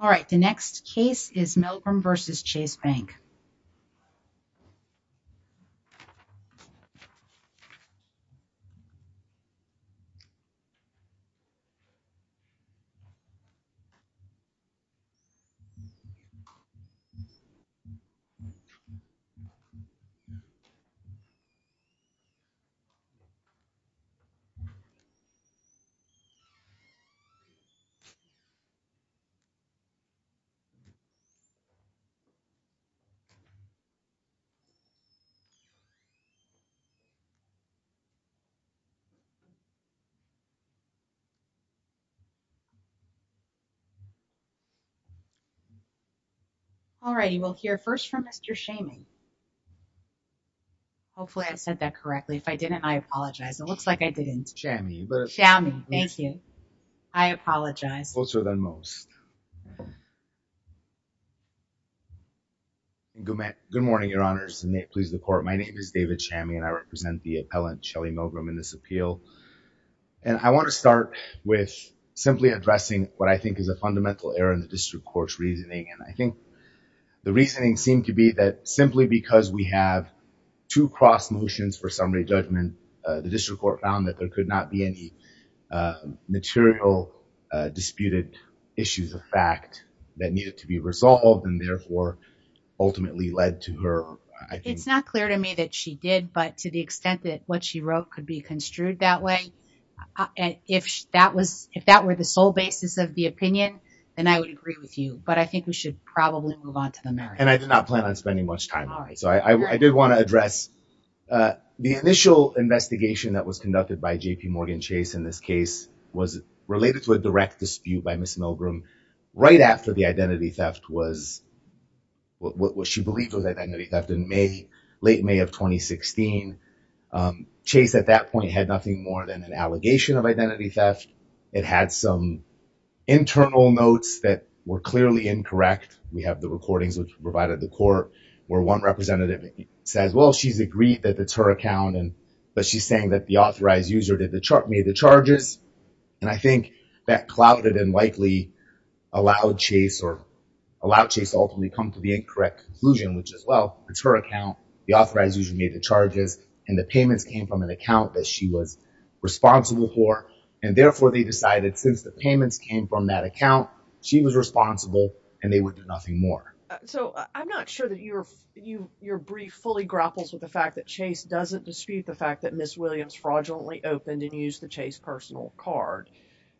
All right, the next case is Milgram v. Chase Bank. All righty, we'll hear first from Mr. Shaming. Hopefully I said that correctly. If I didn't, I apologize. It looks like I didn't. Shamy. Shamy, thank you. I apologize. Closer than most. Good morning, your honors, and may it please the court. My name is David Shamy and I represent the appellant Shelly Milgram in this appeal. And I want to start with simply addressing what I think is a fundamental error in the district court's reasoning. And I think the reasoning seemed to be that simply because we have two cross motions for summary judgment, the district court found that there could not be any material disputed issues of fact that needed to be resolved and therefore ultimately led to her. It's not clear to me that she did, but to the extent that what she wrote could be construed that way, if that were the sole basis of the opinion, then I would agree with you. But I think we should probably move on to the merits. And I did not plan on spending much time on it. So I did want to address the initial investigation that was conducted by JPMorgan Chase in this Milgram right after the identity theft was what she believed was identity theft in May, late May of 2016. Chase at that point had nothing more than an allegation of identity theft. It had some internal notes that were clearly incorrect. We have the recordings which provided the court where one representative says, well, she's agreed that that's her account. But she's saying that the authorized user did the chart, made the charges. And I think that clouded and likely allowed Chase or allowed Chase to ultimately come to the incorrect conclusion, which is, well, it's her account. The authorized user made the charges and the payments came from an account that she was responsible for. And therefore, they decided since the payments came from that account, she was responsible and they would do nothing more. So I'm not sure that your brief fully grapples with the fact that Chase doesn't dispute the and use the Chase personal card.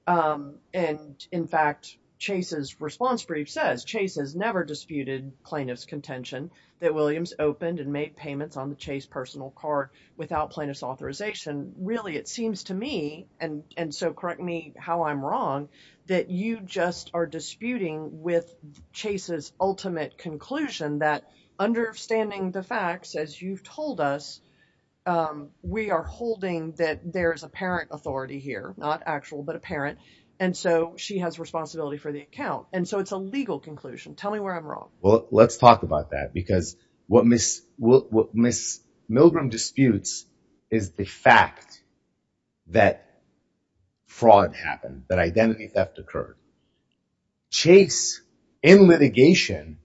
And in fact, Chase's response brief says Chase has never disputed plaintiff's contention that Williams opened and made payments on the Chase personal card without plaintiff's authorization. Really, it seems to me, and so correct me how I'm wrong, that you just are disputing with Chase's ultimate conclusion that understanding the facts, as you've told us, we are holding that there is apparent authority here, not actual, but apparent. And so she has responsibility for the account. And so it's a legal conclusion. Tell me where I'm wrong. Well, let's talk about that, because what Ms. Milgram disputes is the fact that fraud happened, that identity theft occurred. Chase in litigation,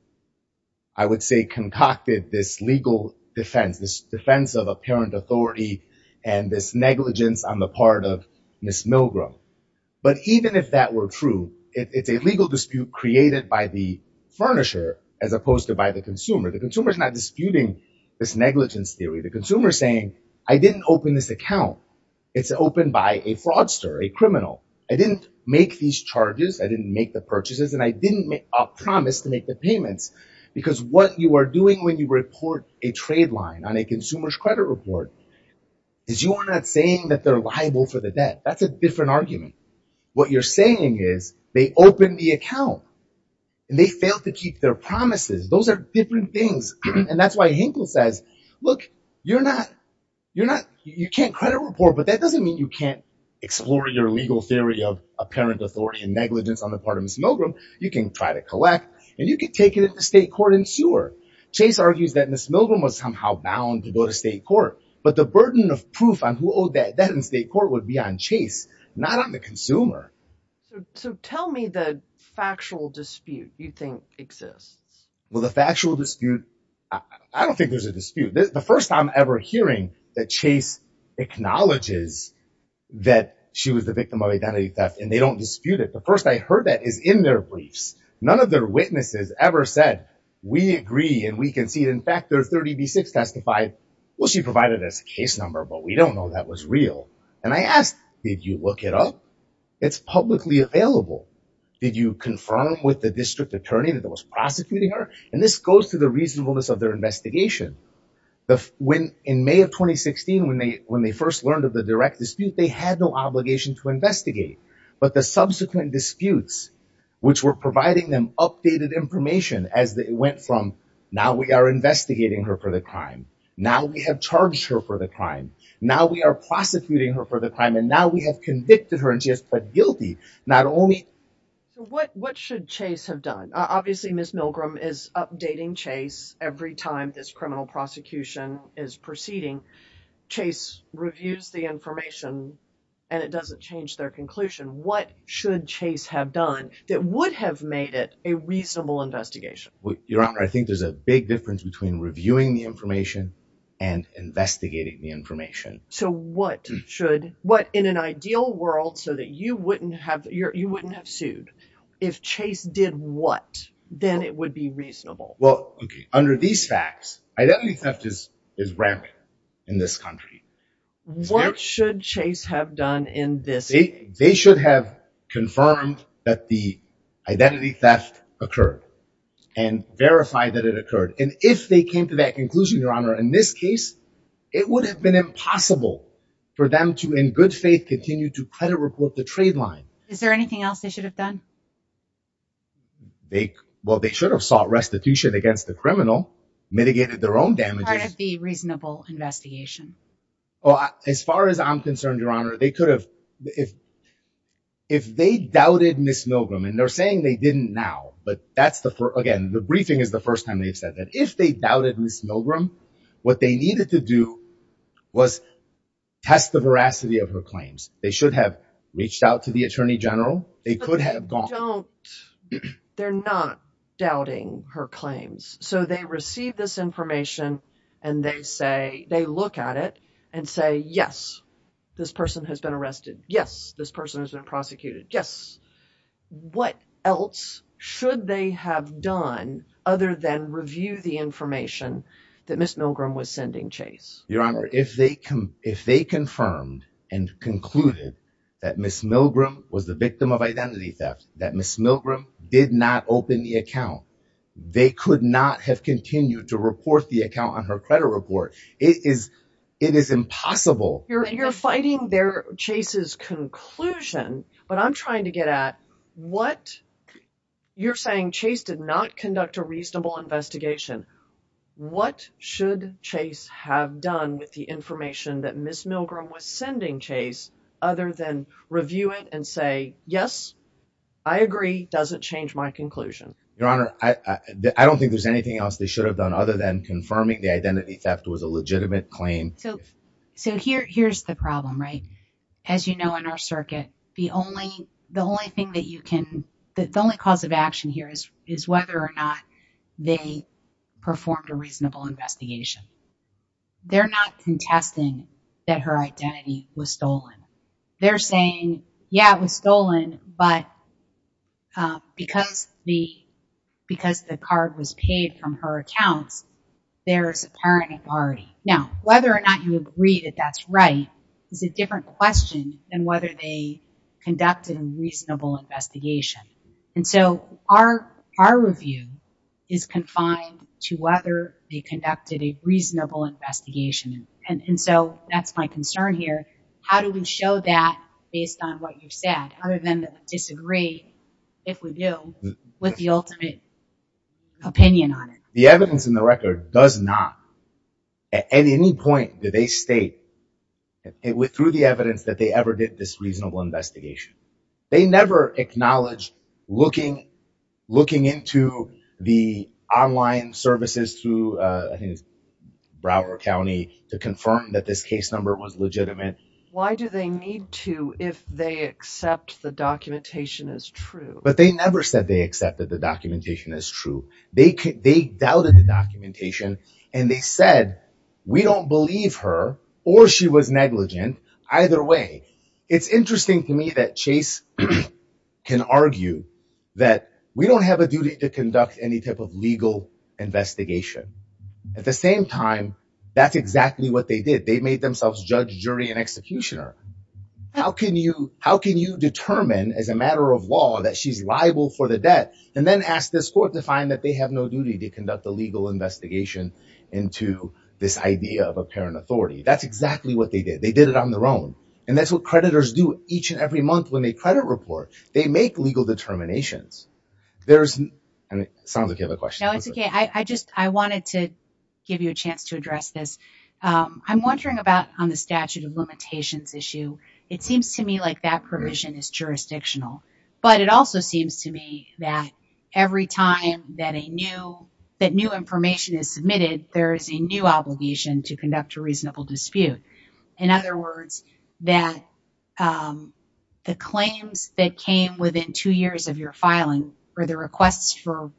I would say, concocted this legal defense, this defense of apparent authority and this negligence on the part of Ms. Milgram. But even if that were true, it's a legal dispute created by the furnisher as opposed to by the consumer. The consumer is not disputing this negligence theory. The consumer is saying, I didn't open this account. It's opened by a fraudster, a criminal. I didn't make these charges. I didn't make the purchases, and I didn't make a promise to make the payments. Because what you are doing when you report a trade line on a consumer's credit report is you are not saying that they're liable for the debt. That's a different argument. What you're saying is they opened the account and they failed to keep their promises. Those are different things. And that's why Hinkle says, look, you're not, you're not, you can't credit report, but that doesn't mean you can't explore your legal theory of apparent authority and negligence on the part of Ms. Milgram. You can try to collect and you can take it to state court and sue her. Chase argues that Ms. Milgram was somehow bound to go to state court, but the burden of proof on who owed that debt in state court would be on Chase, not on the consumer. So tell me the factual dispute you think exists. Well, the factual dispute, I don't think there's a dispute. The first time ever hearing that Chase acknowledges that she was the victim of identity theft and they don't dispute it. The first I heard that is in their briefs, none of their witnesses ever said, we agree and we can see it. In fact, their 30B6 testified, well, she provided us a case number, but we don't know that was real. And I asked, did you look it up? It's publicly available. Did you confirm with the district attorney that there was prosecuting her? And this goes to the reasonableness of their investigation. In May of 2016, when they first learned of the direct dispute, they had no obligation to investigate. But the subsequent disputes, which were providing them updated information as it went from, now we are investigating her for the crime. Now we have charged her for the crime. Now we are prosecuting her for the crime. And now we have convicted her and she has pled guilty. Not only... So what should Chase have done? Obviously, Ms. Milgram is updating Chase every time this criminal prosecution is proceeding. Chase reviews the information and it doesn't change their conclusion. What should Chase have done that would have made it a reasonable investigation? Your Honor, I think there's a big difference between reviewing the information and investigating the information. So what should, what in an ideal world, so that you wouldn't have, you wouldn't have sued if Chase did what? Then it would be reasonable. Well, okay. Under these facts, identity theft is rampant in this country. What should Chase have done in this case? They should have confirmed that the identity theft occurred and verified that it occurred. And if they came to that conclusion, Your Honor, in this case, it would have been impossible for them to, in good faith, continue to credit report the trade line. Is there anything else they should have done? They, well, they should have sought restitution against the criminal, mitigated their own damages. Part of the reasonable investigation. Well, as far as I'm concerned, Your Honor, they could have, if, if they doubted Ms. Milgram and they're saying they didn't now, but that's the, again, the briefing is the first time they've said that. If they doubted Ms. Milgram, what they needed to do was test the veracity of her claims. They should have reached out to the attorney general. They could have gone, they're not doubting her claims. So they receive this information and they say, they look at it and say, yes, this person has been arrested. Yes. This person has been prosecuted. Yes. What else should they have done other than review the information that Ms. Milgram was sending Chase? Your Honor, if they come, if they confirmed and concluded that Ms. Milgram was the victim of identity theft, that Ms. Milgram did not open the account, they could not have continued to report the account on her credit report. It is, it is impossible. You're fighting their Chase's conclusion, but I'm trying to get at what you're saying. Chase did not conduct a reasonable investigation. What should Chase have done with the information that Ms. Milgram was sending Chase other than review it and say, yes, I agree. Doesn't change my conclusion. Your Honor, I don't think there's anything else they should have done other than confirming the identity theft was a legitimate claim. So, so here, here's the problem, right? As you know, in our circuit, the only, the only thing that you can, the only cause of they performed a reasonable investigation. They're not contesting that her identity was stolen. They're saying, yeah, it was stolen, but because the, because the card was paid from her accounts, there's apparent authority. Now, whether or not you agree that that's right is a different question than whether they conducted a reasonable investigation. And so our, our review is confined to whether they conducted a reasonable investigation. And so that's my concern here. How do we show that based on what you said, other than to disagree, if we do, with the ultimate opinion on it? The evidence in the record does not, at any point did they state it through the evidence that they ever did this reasonable investigation. They never acknowledged looking, looking into the online services to, I think it's Broward County to confirm that this case number was legitimate. Why do they need to, if they accept the documentation as true? But they never said they accepted the documentation as true. They could, they doubted the documentation and they said, we don't believe her or she was negligent either way. It's interesting to me that Chase can argue that we don't have a duty to conduct any type of legal investigation at the same time. That's exactly what they did. They made themselves judge, jury, and executioner. How can you, how can you determine as a matter of law that she's liable for the debt and then ask this court to find that they have no duty to conduct a legal investigation into this idea of apparent authority? That's exactly what they did. They did it on their own. And that's what creditors do each and every month when they credit report. They make legal determinations. There's an, sounds like you have a question. No, it's okay. I just, I wanted to give you a chance to address this. I'm wondering about on the statute of limitations issue. It seems to me like that provision is jurisdictional, but it also seems to me that every time that a new, that new information is submitted, there is a new obligation to conduct a reasonable dispute. In other words, that the claims that came within two years of your filing or the requests for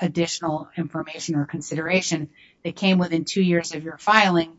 additional information or consideration that came within two years of your filing,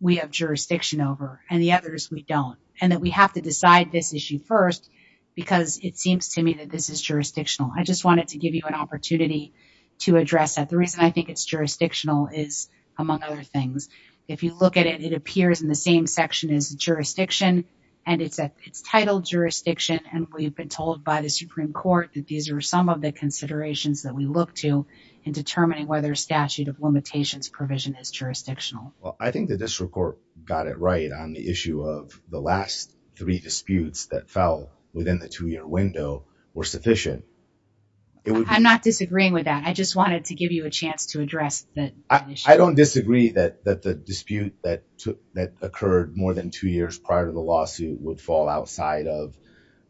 we have jurisdiction over and the others we don't. And that we have to decide this issue first because it seems to me that this is jurisdictional. I just wanted to give you an opportunity to address that. The reason I think it's jurisdictional is among other things. If you look at it, it appears in the same section as jurisdiction and it's a, it's titled jurisdiction and we've been told by the Supreme Court that these are some of the considerations that we look to in determining whether a statute of limitations provision is jurisdictional. Well, I think that this report got it right on the issue of the last three disputes that fell within the two year window were sufficient. I'm not disagreeing with that. I just wanted to give you a chance to address that. I don't disagree that the dispute that occurred more than two years prior to the lawsuit would fall outside of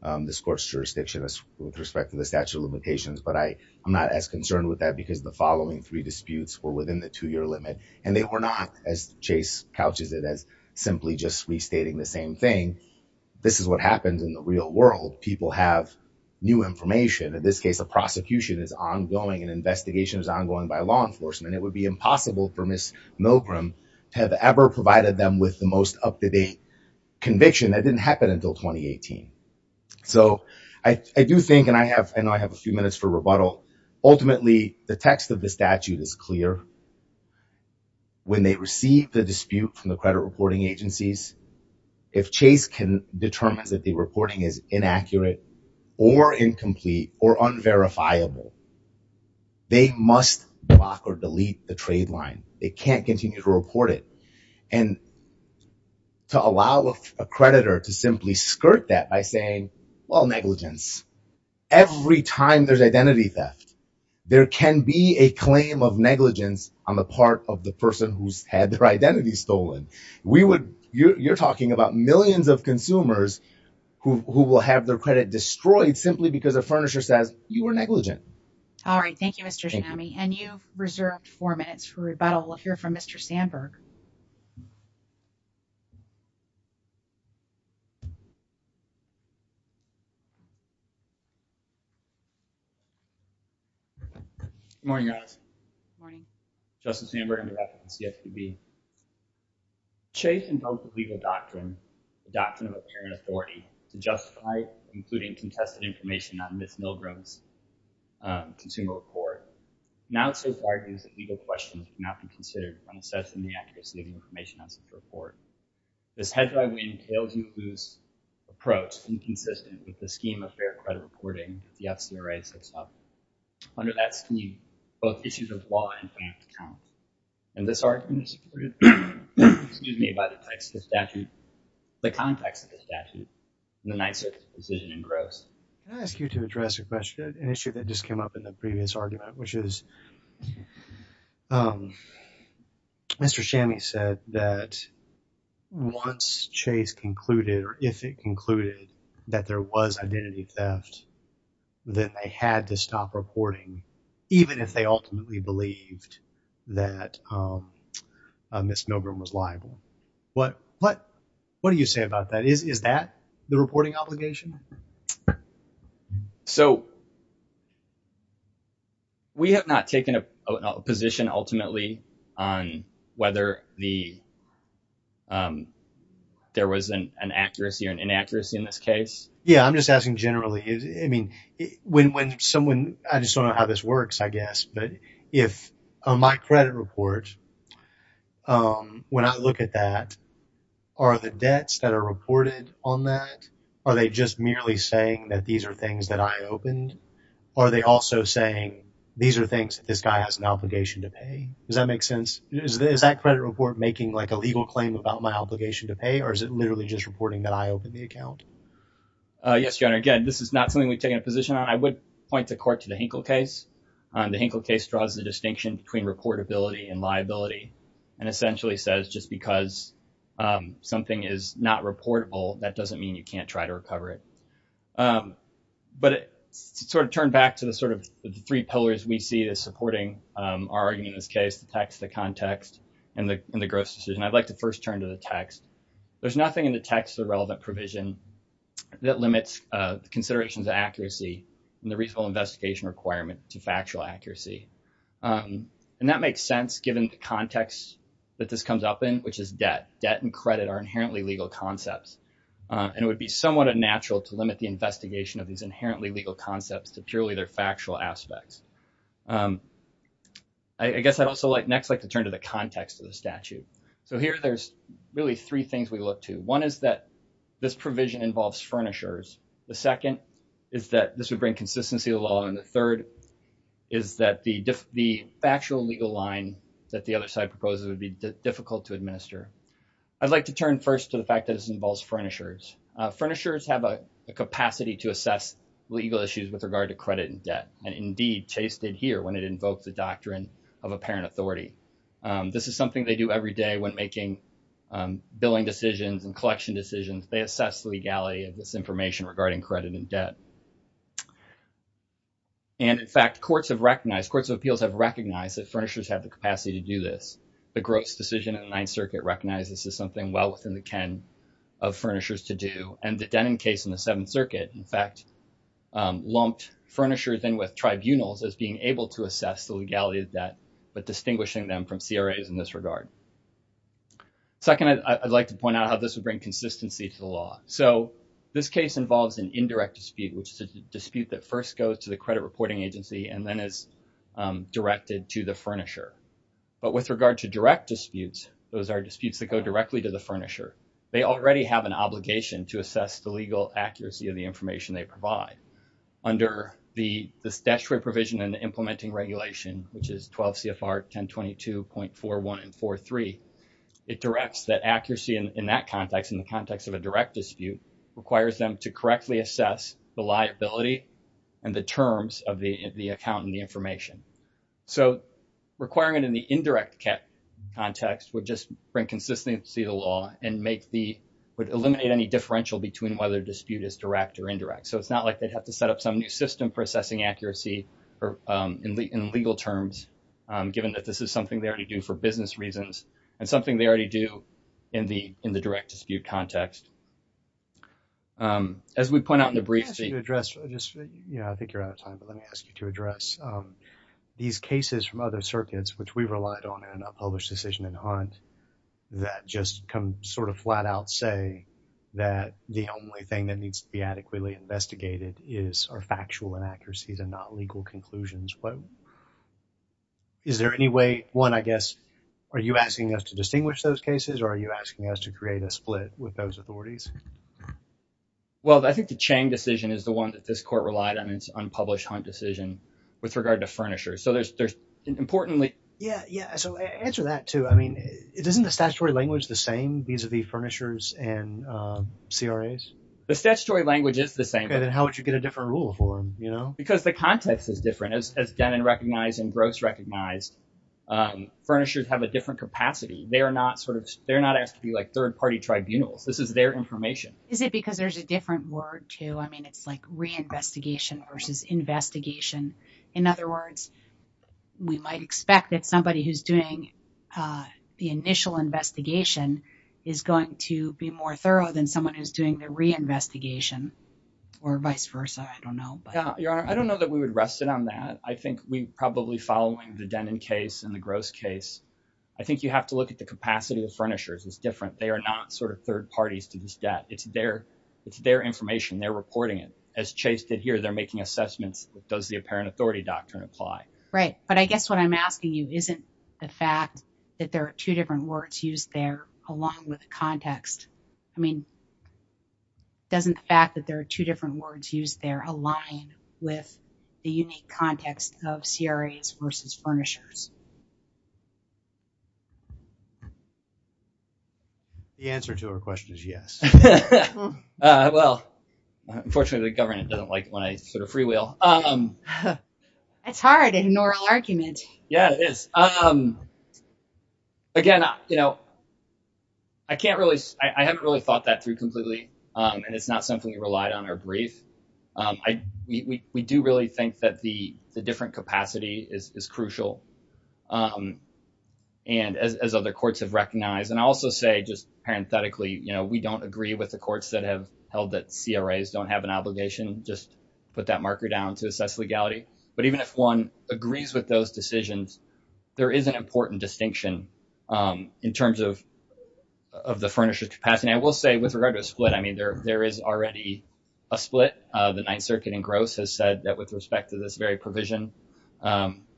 the court's jurisdiction with respect to the statute of limitations. But I'm not as concerned with that because the following three disputes were within the two year limit and they were not as Chase couches it as simply just restating the same thing. This is what happens in the real world. People have new information. In this case, a prosecution is ongoing and investigation is ongoing by law enforcement. And it would be impossible for Miss Milgram to have ever provided them with the most up to date conviction that didn't happen until 2018. So I do think, and I have, I know I have a few minutes for rebuttal. Ultimately the text of the statute is clear when they receive the dispute from the credit reporting agencies. If Chase can determine that the reporting is inaccurate or incomplete or unverifiable, they must block or delete the trade line. They can't continue to report it. And to allow a creditor to simply skirt that by saying, well, negligence, every time there's identity theft, there can be a claim of negligence on the part of the person who's had their identity stolen. We would, you're talking about millions of consumers who will have their credit destroyed simply because a furnisher says you were negligent. All right. Thank you, Mr. Shami. And you've reserved four minutes for rebuttal. We'll hear from Mr. Sandberg. Morning guys. Morning. Justice Sandberg. Chase invoked the legal doctrine, the doctrine of apparent authority to justify including contested information on Ms. Milgrom's consumer report. Now it serves to argue that legal questions cannot be considered when assessing the accuracy of the information on such a report. This hedge-by-win, tail-to-loose approach is inconsistent with the scheme of fair credit reporting, the FCRAs and stuff. Under that scheme, both issues of law and finance count. And this argument is supported, excuse me, by the text of the statute, the context of Can I ask you to address a question, an issue that just came up in the previous argument, which is Mr. Shami said that once Chase concluded or if it concluded that there was identity theft, that they had to stop reporting, even if they ultimately believed that Ms. Milgrom was liable. What do you say about that? Is that the reporting obligation? So, we have not taken a position ultimately on whether there was an accuracy or an inaccuracy in this case. Yeah, I'm just asking generally, I mean, when someone, I just don't know how this works, I guess, but if my credit report, when I look at that, are the debts that are reported on that, are they just merely saying that these are things that I opened? Are they also saying these are things that this guy has an obligation to pay? Does that make sense? Is that credit report making like a legal claim about my obligation to pay or is it literally just reporting that I opened the account? Yes, your honor. Again, this is not something we've taken a position on. I would point the court to the Hinkle case. The Hinkle case draws the distinction between reportability and liability and essentially says just because something is not reportable, that doesn't mean you can't try to recover it. But to sort of turn back to the sort of three pillars we see as supporting our argument in this case, the text, the context, and the gross decision, I'd like to first turn to the text. There's nothing in the text of the relevant provision that limits considerations of accuracy and the reasonable investigation requirement to factual accuracy. And that makes sense given the context that this comes up in, which is debt. Debt and credit are inherently legal concepts. And it would be somewhat unnatural to limit the investigation of these inherently legal concepts to purely their factual aspects. I guess I'd also next like to turn to the context of the statute. So here there's really three things we look to. One is that this provision involves furnishers. The second is that this would bring consistency to the law. And the third is that the actual legal line that the other side proposes would be difficult to administer. I'd like to turn first to the fact that this involves furnishers. Furnishers have a capacity to assess legal issues with regard to credit and debt. And indeed, Chase did here when it invoked the doctrine of apparent authority. This is something they do every day when making billing decisions and collection decisions. They assess the legality of this information regarding credit and debt. And in fact, courts have recognized, courts of appeals have recognized that furnishers have the capacity to do this. The Gross decision in the Ninth Circuit recognizes this as something well within the ken of furnishers to do. And the Denon case in the Seventh Circuit, in fact, lumped furnishers in with tribunals as being able to assess the legality of debt, but distinguishing them from CRAs in this regard. Second, I'd like to point out how this would bring consistency to the law. So this case involves an indirect dispute, which is a dispute that first goes to the credit reporting agency and then is directed to the furnisher. But with regard to direct disputes, those are disputes that go directly to the furnisher. They already have an obligation to assess the legal accuracy of the information they provide. Under the statutory provision and implementing regulation, which is 12 CFR 1022.41 and 43, it directs that accuracy in that context, in the context of a direct dispute, requires them to correctly assess the liability and the terms of the account and the information. So requiring it in the indirect context would just bring consistency to the law and make the, would eliminate any differential between whether dispute is direct or indirect. So it's not like they'd have to set up some new system for assessing accuracy in legal terms, given that this is something they already do for business reasons and something they already do in the direct dispute context. As we point out in the brief. Yeah, I think you're out of time, but let me ask you to address these cases from other circuits, which we relied on in a published decision in Hunt that just come sort of flat out say that the only thing that needs to be adequately investigated is our factual inaccuracies and not legal conclusions. But is there any way, one, I guess, are you asking us to distinguish those cases or are you asking us to create a split with those authorities? Well, I think the Chang decision is the one that this court relied on. It's unpublished Hunt decision with regard to furnishers. So there's, there's importantly. Yeah. Yeah. So answer that too. I mean, it isn't the statutory language the same. These are the furnishers and CRAs. The statutory language is the same. Okay. Then how would you get a different rule for them, you know? Because the context is different as Denon recognized and Gross recognized. Furnishers have a different capacity. They are not sort of, they're not asked to be like third party tribunals. This is their information. Is it because there's a different word too? I mean, it's like reinvestigation versus investigation. In other words, we might expect that somebody who's doing the initial investigation is going to be more thorough than someone who's doing the reinvestigation or vice versa. I don't know. Yeah. Your Honor, I don't know that we would rest it on that. I think we probably following the Denon case and the Gross case, I think you have to look at the capacity of furnishers. It's different. They are not sort of third parties to this debt. It's their information. They're reporting it. As Chase did here, they're making assessments. Does the apparent authority doctrine apply? Right. But I guess what I'm asking you isn't the fact that there are two different words used there along with the context. I mean, doesn't the fact that there are two different words used there align with the unique context of CRAs versus furnishers? The answer to her question is yes. Well, unfortunately, the government doesn't like it when I sort of freewheel. That's hard in an oral argument. Yeah, it is. Again, I haven't really thought that through completely, and it's not something we relied on our brief. We do really think that the different capacity is crucial, as other courts have recognized. I also say just parenthetically, we don't agree with the courts that have held that CRAs don't have an obligation. Just put that marker down to assess legality. But even if one agrees with those decisions, there is an important distinction in terms of the furnishers' capacity. I will say with regard to a split, I mean, there is already a split. The Ninth Circuit in Gross has said that with respect to this very provision,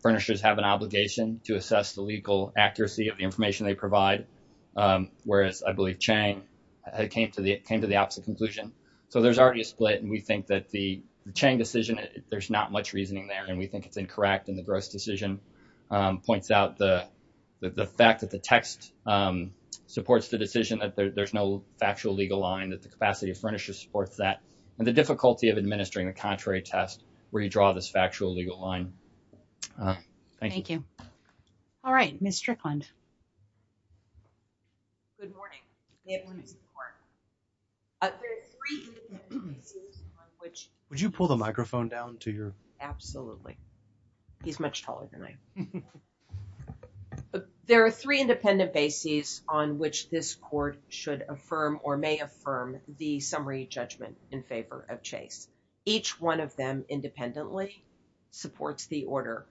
furnishers have an obligation to assess the legal accuracy of the information they provide, whereas I believe Chang came to the opposite conclusion. So there's already a split, and we think that the Chang decision, there's not much reasoning there, and we think it's incorrect. And the Gross decision points out the fact that the text supports the decision that there's no factual legal line, that the capacity of furnishers supports that, and the difficulty of administering the contrary test where you draw this factual legal line. Thank you. All right. Ms. Strickland. Good morning. May everyone see the board? There are three independent bases on which- Would you pull the microphone down to your- Absolutely. He's much taller than I am. There are three independent bases on which this court should affirm or may affirm the summary judgment in favor of Chase. Each one of them independently supports the order.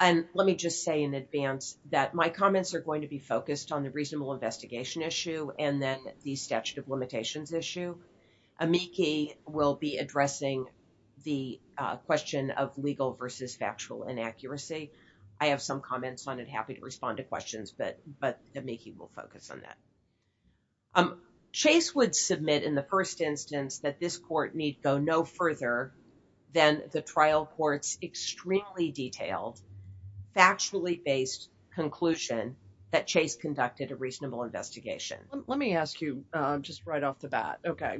And let me just say in advance that my comments are going to be focused on the reasonable investigation issue and then the statute of limitations issue. Amiki will be addressing the question of legal versus factual inaccuracy. I have some comments on it, happy to respond to questions, but Amiki will focus on that. Um, Chase would submit in the first instance that this court need go no further than the trial court's extremely detailed, factually-based conclusion that Chase conducted a reasonable investigation. Let me ask you just right off the bat. Okay.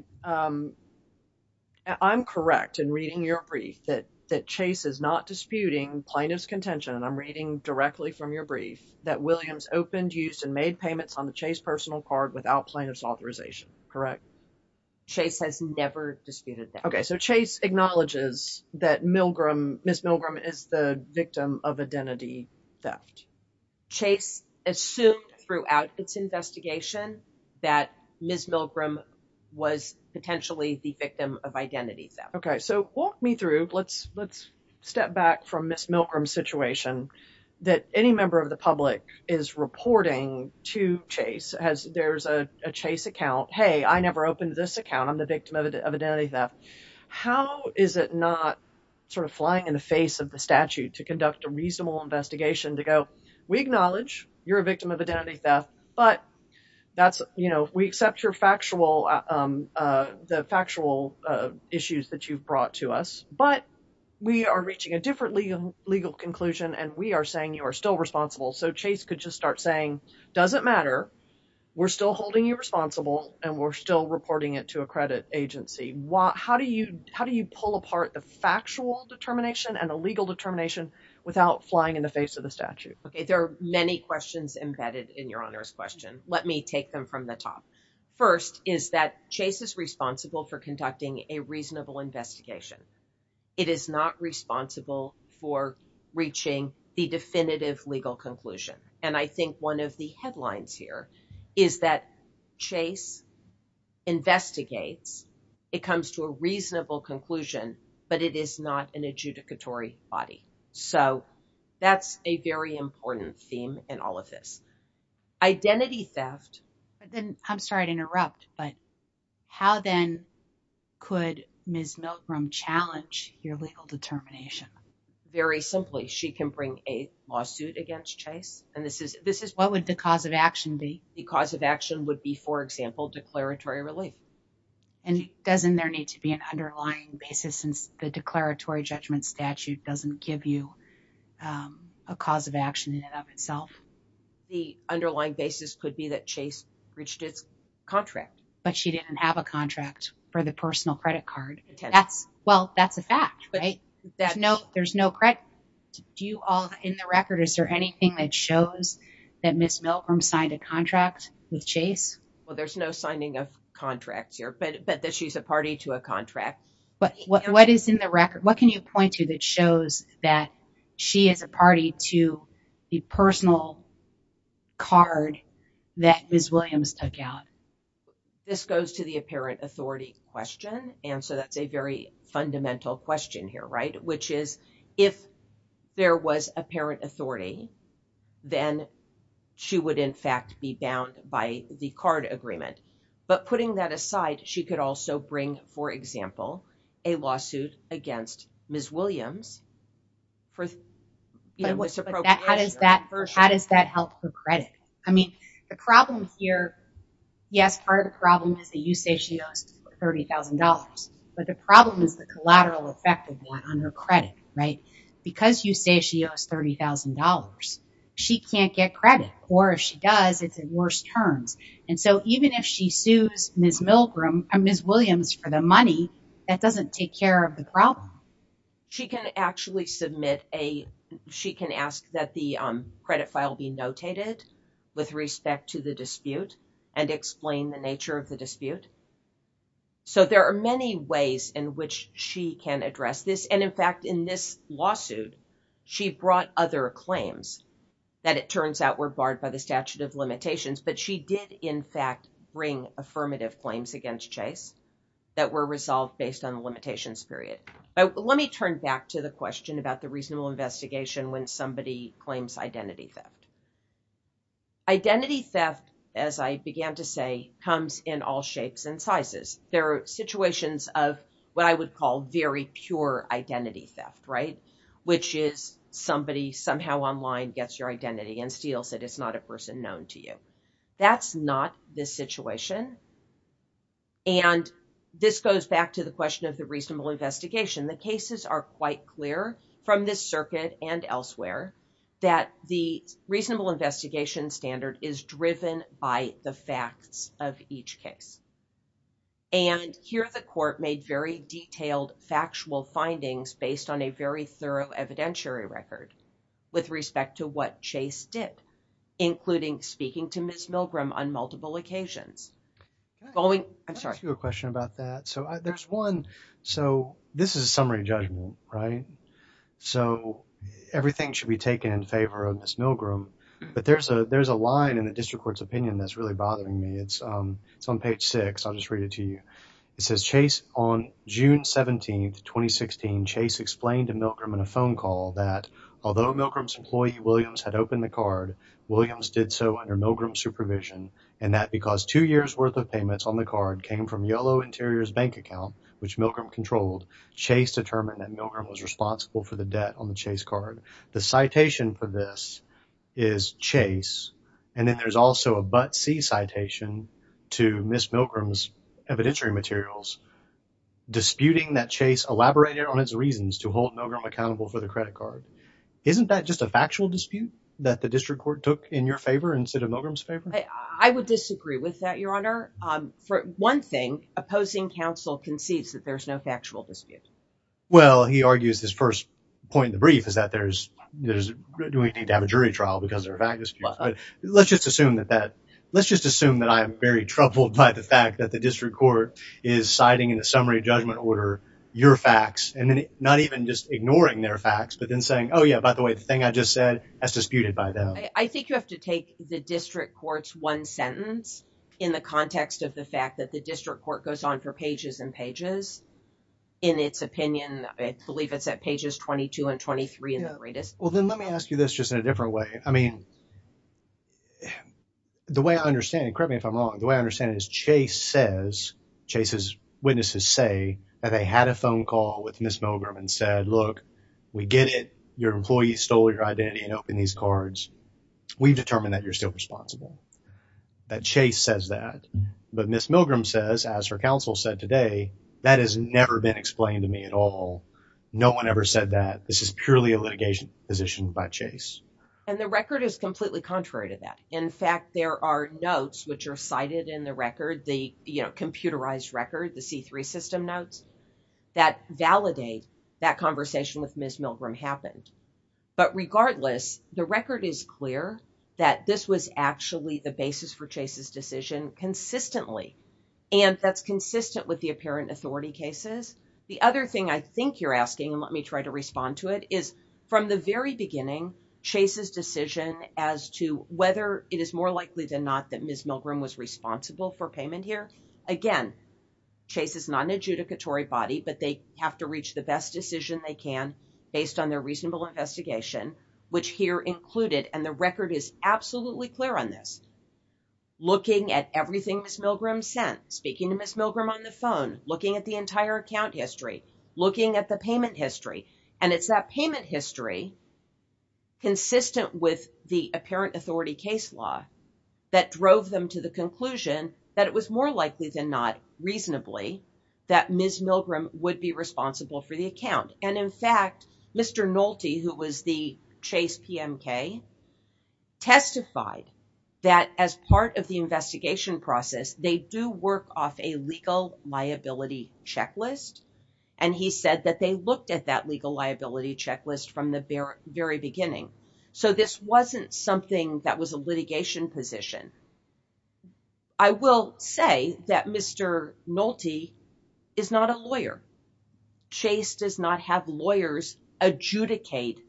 I'm correct in reading your brief that Chase is not disputing plaintiff's contention, and I'm reading directly from your brief, that Williams opened, used, and made payments on Chase's personal card without plaintiff's authorization, correct? Chase has never disputed that. Okay, so Chase acknowledges that Milgram, Ms. Milgram, is the victim of identity theft. Chase assumed throughout its investigation that Ms. Milgram was potentially the victim of identity theft. Okay, so walk me through, let's step back from Ms. Milgram's situation, that any member of the public is reporting to Chase as there's a Chase account, hey, I never opened this account, I'm the victim of identity theft. How is it not sort of flying in the face of the statute to conduct a reasonable investigation to go, we acknowledge you're a victim of identity theft, but that's, you know, we accept the factual issues that you've brought to us, but we are reaching a different legal conclusion, and we are saying you are still responsible. So Chase could just start saying, doesn't matter, we're still holding you responsible, and we're still reporting it to a credit agency. How do you pull apart the factual determination and the legal determination without flying in the face of the statute? Okay, there are many questions embedded in Your Honor's question. Let me take them from the top. First is that Chase is responsible for conducting a reasonable investigation. It is not responsible for reaching the definitive legal conclusion. And I think one of the headlines here is that Chase investigates, it comes to a reasonable conclusion, but it is not an adjudicatory body. So that's a very important theme in all of this. Identity theft. But then, I'm sorry to interrupt, but how then could Ms. Milgram challenge your legal determination? Very simply, she can bring a lawsuit against Chase. And this is... What would the cause of action be? The cause of action would be, for example, declaratory relief. And doesn't there need to be an underlying basis since the declaratory judgment statute doesn't give you a cause of action in and of itself? The underlying basis could be that Chase breached its contract. But she didn't have a contract for the personal credit card. Well, that's a fact, right? There's no credit. Do you all, in the record, is there anything that shows that Ms. Milgram signed a contract with Chase? Well, there's no signing of contracts here, but that she's a party to a contract. But what is in the record? Can you point to that shows that she is a party to the personal card that Ms. Williams took out? This goes to the apparent authority question. And so, that's a very fundamental question here, right? Which is, if there was apparent authority, then she would, in fact, be bound by the card agreement. But putting that aside, she could also bring, for example, a lawsuit against Ms. Williams for misappropriation. How does that help her credit? I mean, the problem here, yes, part of the problem is that you say she owes $30,000. But the problem is the collateral effect of that on her credit, right? Because you say she owes $30,000, she can't get credit. Or if she does, it's in worse terms. And so, even if she sues Ms. Williams for the money, that doesn't take care of the problem. She can actually submit a, she can ask that the credit file be notated with respect to the dispute and explain the nature of the dispute. So, there are many ways in which she can address this. And in fact, in this lawsuit, she brought other claims that it turns out were barred by the statute of limitations. But she did, in fact, bring affirmative claims against Chase that were resolved based on the limitations period. But let me turn back to the question about the reasonable investigation when somebody claims identity theft. Identity theft, as I began to say, comes in all shapes and sizes. There are situations of what I would call very pure identity theft, right? Which is somebody somehow online gets your identity and steals it. It's not a person known to you. That's not the situation. And this goes back to the question of the reasonable investigation. The cases are quite clear from this circuit and elsewhere that the reasonable investigation standard is driven by the facts of each case. And here the court made very detailed factual findings based on a very thorough evidentiary record with respect to what Chase did, including speaking to Ms. Milgram on multiple occasions. Following, I'm sorry. Let me ask you a question about that. So, there's one. So, this is a summary judgment, right? So, everything should be taken in favor of Ms. Milgram. But there's a line in the district court's opinion that's really bothering me. It's on page six. I'll just read it to you. It says, Chase, on June 17th, 2016, Chase explained to Milgram in a phone call that although Milgram's employee, Williams, had opened the card, Williams did so under Milgram's supervision and that because two years' worth of payments on the card came from Yolo Interior's bank account, which Milgram controlled, Chase determined that Milgram was responsible for the debt on the Chase card. The citation for this is Chase. And then there's also a but-see citation to Ms. Milgram's evidentiary materials, disputing that Chase elaborated on its reasons to hold Milgram accountable for the credit card. Isn't that just a factual dispute that the district court took in your favor instead of Milgram's favor? I would disagree with that, Your Honor. For one thing, opposing counsel concedes that there's no factual dispute. Well, he argues his first point in the brief is that there's, do we need to have a jury trial because there are factual disputes? Let's just assume that that, let's just assume that I'm very troubled by the fact that the district court is citing in a summary judgment order your facts and then not even just ignoring their facts, but then saying, oh, yeah, by the way, the thing I just said has disputed by them. I think you have to take the district court's one sentence in the context of the fact that the district court goes on for pages and pages. In its opinion, I believe it's at pages 22 and 23 in the greatest. Well, then let me ask you this just in a different way. I mean, the way I understand it, correct me if I'm wrong. The way I understand it is Chase says, Chase's witnesses say that they had a phone call with Miss Milgram and said, look, we get it. Your employee stole your identity and opened these cards. We've determined that you're still responsible, that Chase says that. But Miss Milgram says, as her counsel said today, that has never been explained to me at all. No one ever said that. This is purely a litigation position by Chase. And the record is completely contrary to that. In fact, there are notes which are cited in the record, the computerized record, the C3 system notes that validate that conversation with Miss Milgram happened. But regardless, the record is clear that this was actually the basis for Chase's decision consistently, and that's consistent with the apparent authority cases. The other thing I think you're asking, and let me try to respond to it, is from the very beginning, Chase's decision as to whether it is more likely than not that Miss Milgram was responsible for payment here. Again, Chase is not an adjudicatory body, but they have to reach the best decision they can based on their reasonable investigation, which here included, and the record is absolutely clear on this, looking at everything Miss Milgram sent, speaking to Miss Milgram on the phone, looking at the entire account history, looking at the payment history. And it's that payment history, consistent with the apparent authority case law, that drove them to the conclusion that it was more likely than not, reasonably, that Miss Milgram would be responsible for the account. And in fact, Mr. Nolte, who was the Chase PMK, testified that as part of the investigation process, they do work off a legal liability checklist. And he said that they looked at that legal liability checklist from the very beginning. So this wasn't something that was a litigation position. I will say that Mr. Nolte is not a lawyer. Chase does not have lawyers adjudicate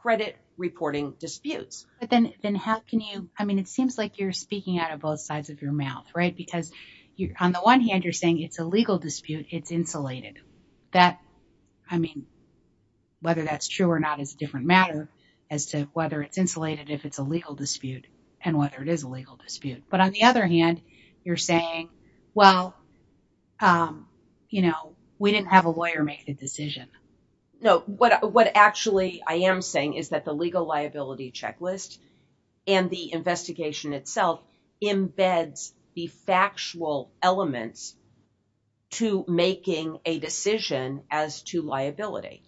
credit reporting disputes. But then how can you, I mean, it seems like you're speaking out of both sides of your mouth, right? Because on the one hand, you're saying it's a legal dispute, it's insulated. That, I mean, whether that's true or not is a different matter as to whether it's insulated if it's a legal dispute and whether it is a legal dispute. But on the other hand, you're saying, well, you know, we didn't have a lawyer make the decision. No, what actually I am saying is that the legal liability checklist and the investigation itself embeds the factual elements to making a decision as to liability.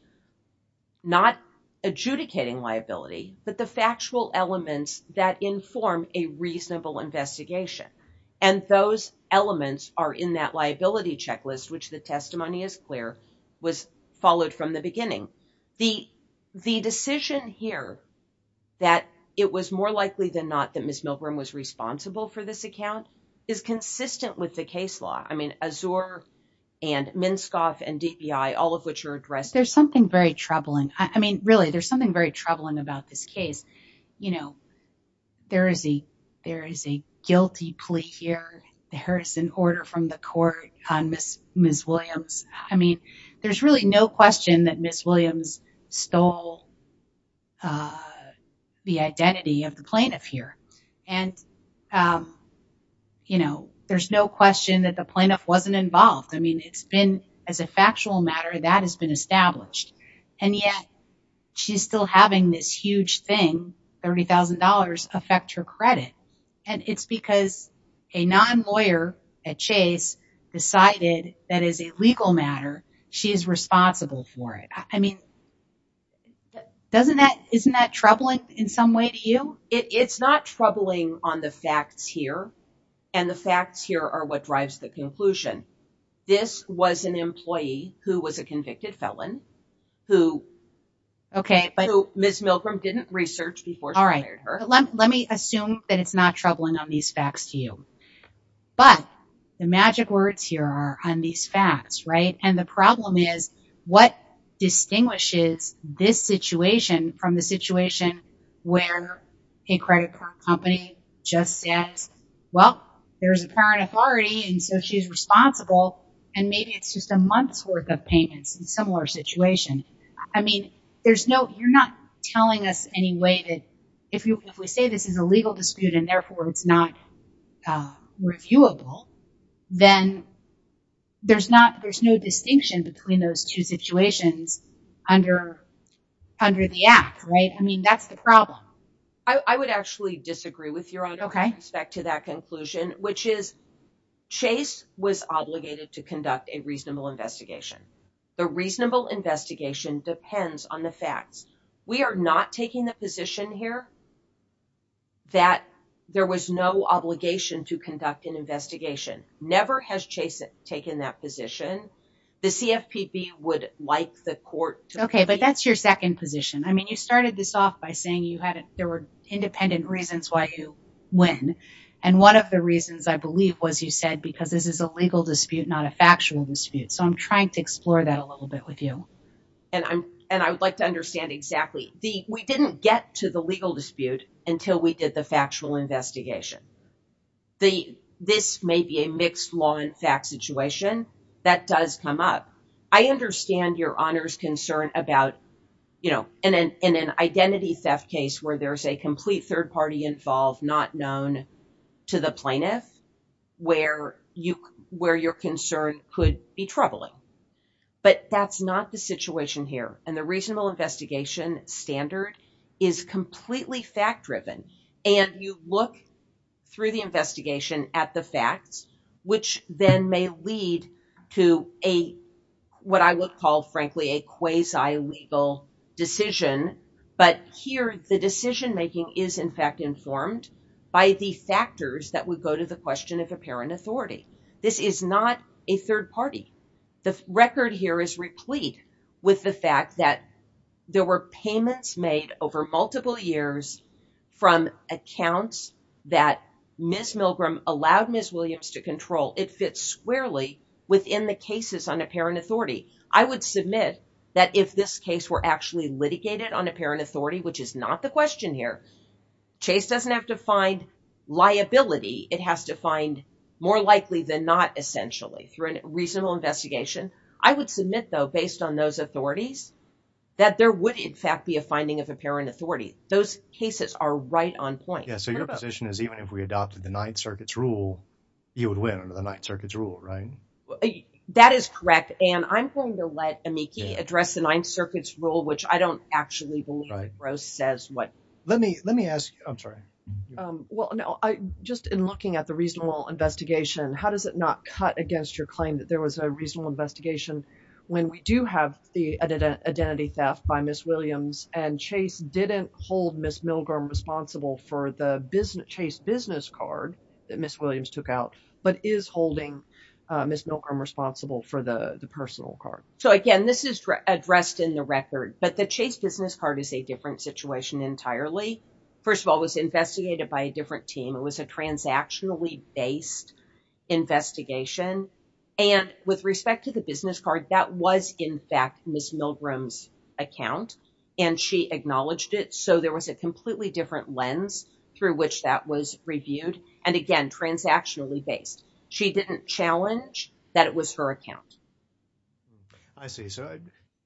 Not adjudicating liability, but the factual elements that inform a reasonable investigation. And those elements are in that liability checklist, which the testimony is clear was followed from the beginning. The decision here that it was more likely than not that Ms. Milgrom was responsible for this account is consistent with the case law. I mean, Azure and Minskoff and DPI, all of which are addressed. There's something very troubling. I mean, really, there's something very troubling about this case. You know, there is a guilty plea here. There is an order from the court on Ms. Williams. I mean, there's really no question that Ms. Williams stole the identity of the plaintiff here. And, you know, there's no question that the plaintiff wasn't involved. I mean, it's been as a factual matter that has been established. And yet, she's still having this huge thing, $30,000 affect her credit. And it's because a non-lawyer at Chase decided that as a legal matter, she is responsible for it. I mean, isn't that troubling in some way to you? It's not troubling on the facts here. And the facts here are what drives the conclusion. This was an employee who was a convicted felon, who Ms. Milgrom didn't research before. Let me assume that it's not troubling on these facts to you. But the magic words here are on these facts, right? And the problem is what distinguishes this situation from the situation where a credit card company just says, well, there's a parent authority. And so she's responsible. And maybe it's just a month's worth of payments in a similar situation. I mean, you're not telling us any way that if we say this is a legal dispute and therefore it's not reviewable, then there's no distinction between those two situations under the act, right? I mean, that's the problem. I would actually disagree with your own respect to that conclusion, which is Chase was obligated to conduct a reasonable investigation. The reasonable investigation depends on the facts. We are not taking the position here that there was no obligation to conduct an investigation. Never has Chase taken that position. The CFPB would like the court to- Okay. But that's your second position. I mean, you started this off by saying there were independent reasons why you win. And one of the reasons, I believe, was you said, because this is a legal dispute, not a factual dispute. So I'm trying to explore that a little bit with you. And I would like to understand exactly. We didn't get to the legal dispute until we did the factual investigation. This may be a mixed law and fact situation. That does come up. I understand your honor's concern about in an identity theft case where there's a complete third party involved, not known to the plaintiff, where your concern could be troubling. But that's not the situation here. And the reasonable investigation standard is completely fact-driven. And you look through the investigation at the facts, which then may lead to what I would call, frankly, a quasi-legal decision. But here, the decision-making is, in fact, informed by the factors that would go to the question of apparent authority. This is not a third party. The record here is replete with the fact that there were payments made over multiple years from accounts that Ms. Milgram allowed Ms. Williams to control. It fits squarely within the cases on apparent authority. I would submit that if this case were actually litigated on apparent authority, which is not the question here, Chase doesn't have to find liability. It has to find more likely than not, essentially, through a reasonable investigation. I would submit, though, based on those authorities, that there would, in fact, be a finding of apparent authority. Those cases are right on point. Yeah, so your position is even if we adopted the Ninth Circuit's rule, you would win under the Ninth Circuit's rule, right? That is correct. I'm going to let Amiki address the Ninth Circuit's rule, which I don't actually believe, if Rose says what. Let me ask, I'm sorry. Well, no, just in looking at the reasonable investigation, how does it not cut against your claim that there was a reasonable investigation when we do have the identity theft by Ms. Williams and Chase didn't hold Ms. Milgram responsible for the Chase business card that Ms. Williams took out, but is holding Ms. Milgram responsible for the personal card? So again, this is addressed in the record, but the Chase business card is a different situation entirely. First of all, it was investigated by a different team. It was a transactionally based investigation, and with respect to the business card, that was, in fact, Ms. Milgram's account, and she acknowledged it. So there was a completely different lens through which that was reviewed. And again, transactionally based. She didn't challenge that it was her account. I see. So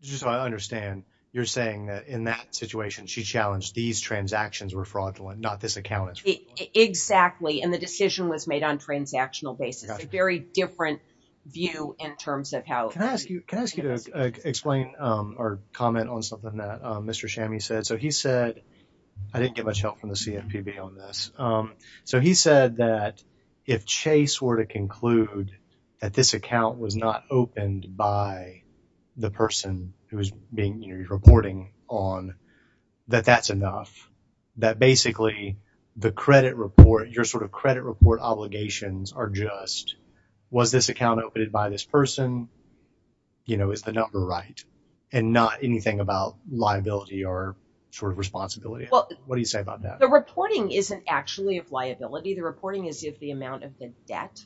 just so I understand, you're saying that in that situation, she challenged these transactions were fraudulent, not this account is fraudulent. Exactly. And the decision was made on a transactional basis, a very different view in terms of how- Can I ask you to explain or comment on something that Mr. Shammi said? So he said, I didn't get much help from the CFPB on this. So he said that if Chase were to conclude that this account was not opened by the person who was being, you know, reporting on, that that's enough. That basically, the credit report, your sort of credit report obligations are just, was this account opened by this person? You know, is the number right? And not anything about liability or sort of responsibility. What do you say about that? The reporting isn't actually of liability. The reporting is of the amount of the debt.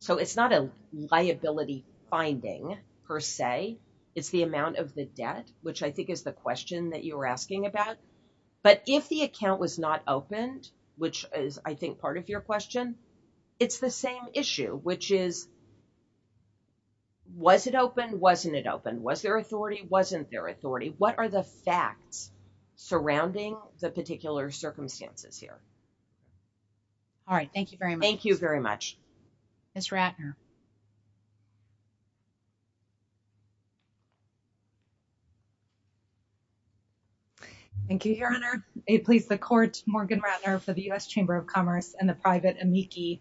So it's not a liability finding per se, it's the amount of the debt, which I think is the question that you were asking about. But if the account was not opened, which is I think part of your question, it's the same issue, which is, was it open? Wasn't it open? Was there authority? Wasn't there authority? What are the facts surrounding the particular circumstances here? All right. Thank you very much. Thank you very much. Ms. Ratner. Thank you, Your Honor. It please the court, Morgan Ratner for the U.S. Chamber of Commerce and the private amici.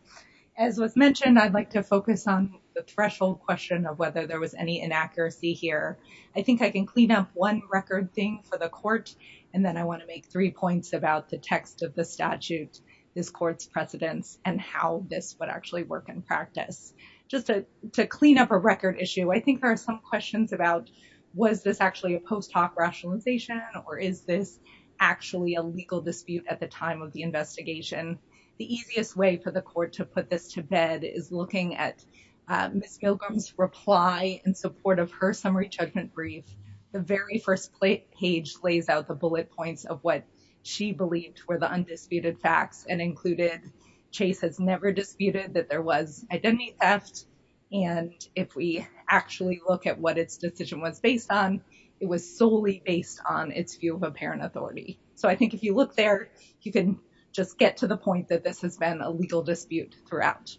As was mentioned, I'd like to focus on the threshold question of whether there was any inaccuracy here. I think I can clean up one record thing for the court, and then I want to make three points about the text of the statute, this court's precedents, and how this would actually work in practice. Just to clean up a record issue, I think there are some questions about was this actually a post hoc rationalization or is this actually a legal dispute at the time of the investigation? The easiest way for the court to put this to bed is looking at Ms. Milgram's reply in her statement brief. The very first page lays out the bullet points of what she believed were the undisputed facts and included Chase has never disputed that there was identity theft. And if we actually look at what its decision was based on, it was solely based on its view of apparent authority. So I think if you look there, you can just get to the point that this has been a legal dispute throughout.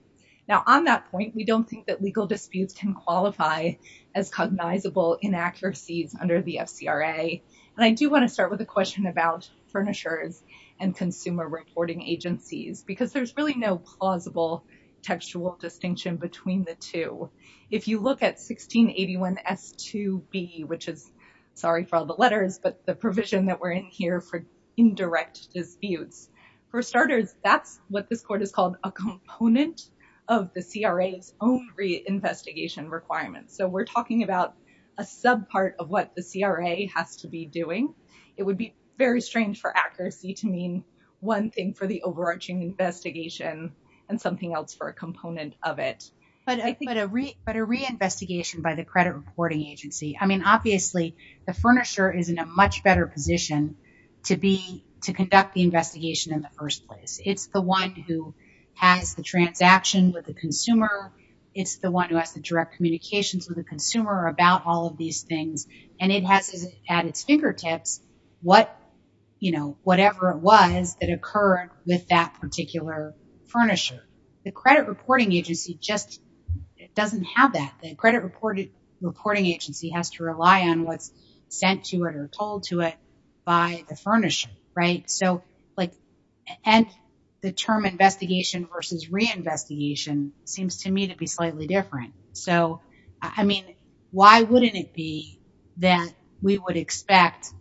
Now, on that point, we don't think that legal disputes can qualify as cognizable inaccuracies under the FCRA. And I do want to start with a question about furnishers and consumer reporting agencies, because there's really no plausible textual distinction between the two. If you look at 1681 S2B, which is, sorry for all the letters, but the provision that we're in here for indirect disputes. For starters, that's what this court has called a component of the CRA's own reinvestigation requirements. So we're talking about a sub part of what the CRA has to be doing. It would be very strange for accuracy to mean one thing for the overarching investigation and something else for a component of it. But a reinvestigation by the credit reporting agency. Obviously, the furnisher is in a much better position to conduct the investigation in the first place. It's the one who has the transaction with the consumer. It's the one who has the direct communications with the consumer about all of these things. And it has at its fingertips whatever it was that occurred with that particular furnisher. The credit reporting agency just doesn't have that. Credit reporting agency has to rely on what's sent to it or told to it by the furnisher, right? So like, and the term investigation versus reinvestigation seems to me to be slightly different. So, I mean, why wouldn't it be that we would expect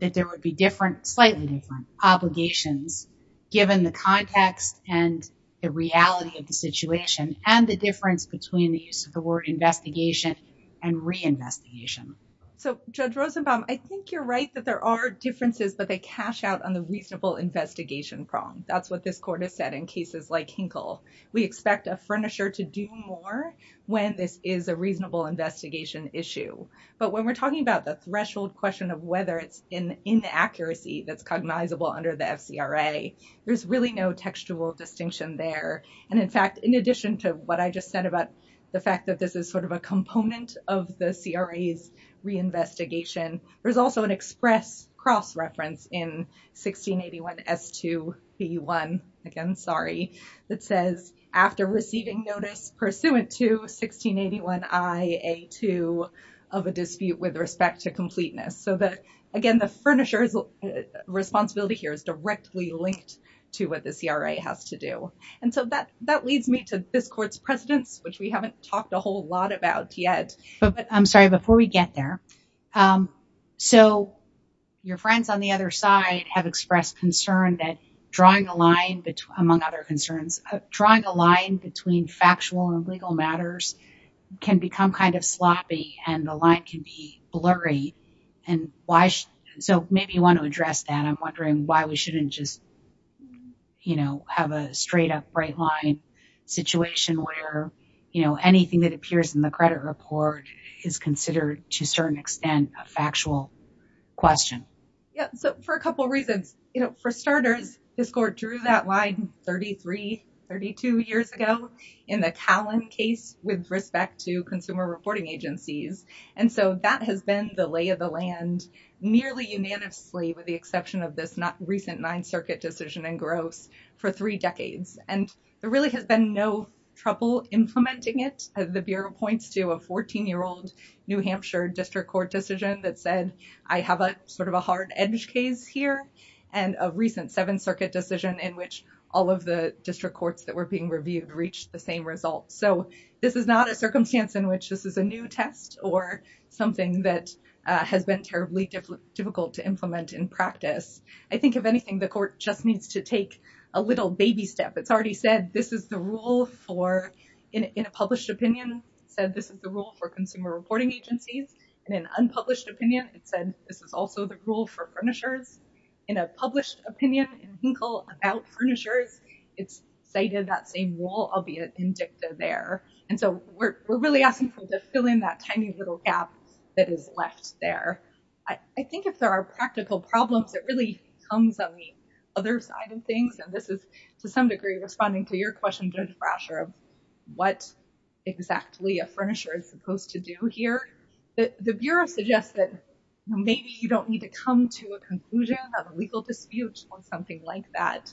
that there would be different, slightly different obligations given the context and the reality of the situation and the difference between the use of the word investigation and reinvestigation? So, Judge Rosenbaum, I think you're right that there are differences, but they cash out on the reasonable investigation prong. That's what this court has said in cases like Hinkle. We expect a furnisher to do more when this is a reasonable investigation issue. But when we're talking about the threshold question of whether it's an inaccuracy that's cognizable under the FCRA, there's really no textual distinction there. And in fact, in addition to what I just said about the fact that this is sort of a component of the CRA's reinvestigation, there's also an express cross-reference in 1681 S2 P1, again, sorry, that says, after receiving notice pursuant to 1681 I A2 of a dispute with respect to completeness. So that, again, the furnisher's responsibility here is directly linked to what the CRA has to do. And so that leads me to this court's precedents, which we haven't talked a whole lot about yet. But I'm sorry, before we get there. So your friends on the other side have expressed concern that drawing a line, among other concerns, drawing a line between factual and legal matters can become kind of sloppy and the line can be blurry. And so maybe you want to address that. I'm wondering why we shouldn't just, you know, have a straight up bright line situation where, you know, anything that appears in the credit report is considered to a certain extent a factual question. Yeah. So for a couple of reasons, you know, for starters, this court drew that line 33, 32 years ago in the Callen case with respect to consumer reporting agencies. And so that has been the lay of the land nearly unanimously, with the exception of this not recent Ninth Circuit decision in Gross, for three decades. And there really has been no trouble implementing it. The Bureau points to a 14-year-old New Hampshire district court decision that said, I have a sort of a hard edge case here, and a recent Seventh Circuit decision in which all of the district courts that were being reviewed reached the same result. So this is not a circumstance in which this is a new test or something that has been terribly difficult to implement in practice. I think, if anything, the court just needs to take a little baby step. It's already said this is the rule for, in a published opinion, said this is the rule for consumer reporting agencies. In an unpublished opinion, it said this is also the rule for furnishers. In a published opinion, in Hinkle, about furnishers, it's cited that same rule, albeit in dicta there. And so we're really asking people to fill in that tiny little gap that is left there. I think if there are practical problems, it really comes on the other side of things. And this is, to some degree, responding to your question, Judge Brasher, of what exactly a furnisher is supposed to do here. The Bureau suggests that maybe you don't need to come to a conclusion, a legal dispute, on something like that.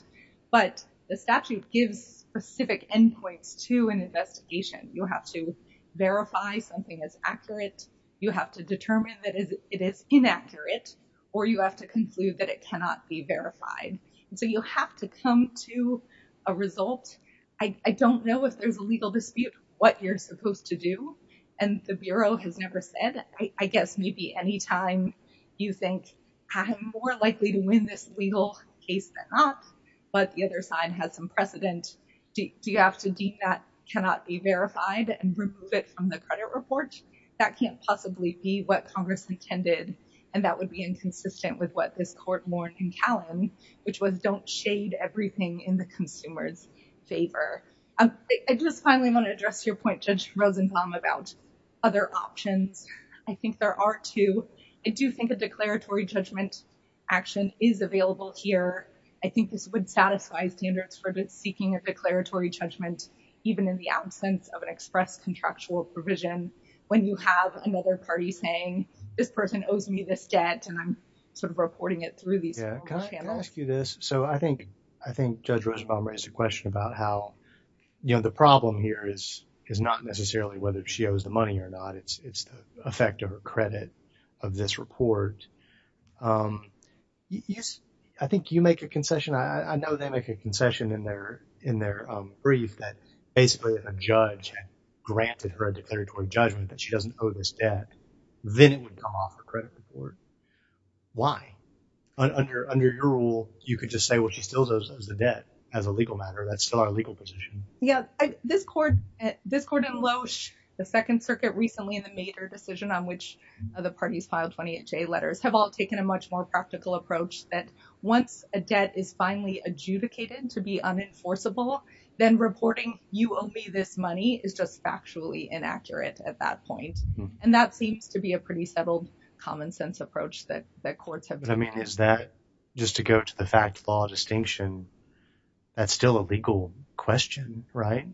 But the statute gives specific endpoints to an investigation. You have to verify something is accurate. You have to determine that it is inaccurate. Or you have to conclude that it cannot be verified. So you have to come to a result. I don't know if there's a legal dispute what you're supposed to do. And the Bureau has never said. I guess maybe any time you think I'm more likely to win this legal case than not, but the other side has some precedent, do you have to deem that cannot be verified and remove it from the credit report? That can't possibly be what Congress intended. And that would be inconsistent with what this Court warned in Callan, which was don't shade everything in the consumer's favor. I just finally want to address your point, Judge Rosenbaum, about other options. I think there are two. I do think a declaratory judgment action is available here. I think this would satisfy standards for seeking a declaratory judgment, even in the absence of an express contractual provision, when you have another party saying, this person owes me this debt. And I'm sort of reporting it through these channels. Can I ask you this? So I think Judge Rosenbaum raised a question about how the problem here is not necessarily whether she owes the money or not. It's the effect of her credit of this report. I think you make a concession. I know they make a concession in their brief that basically if a judge had granted her a declaratory judgment that she doesn't owe this debt, then it would come off her credit report. Why? Under your rule, you could just say, well, she still owes the debt as a legal matter. That's still our legal position. Yeah, this court, this court in Loesch, the Second Circuit recently in the major decision on which of the parties filed 28J letters, have all taken a much more practical approach that once a debt is finally adjudicated to be unenforceable, then reporting you owe me this money is just factually inaccurate at that point. And that seems to be a pretty settled common sense approach that courts have. Is that just to go to the fact law distinction? That's still a legal question, right?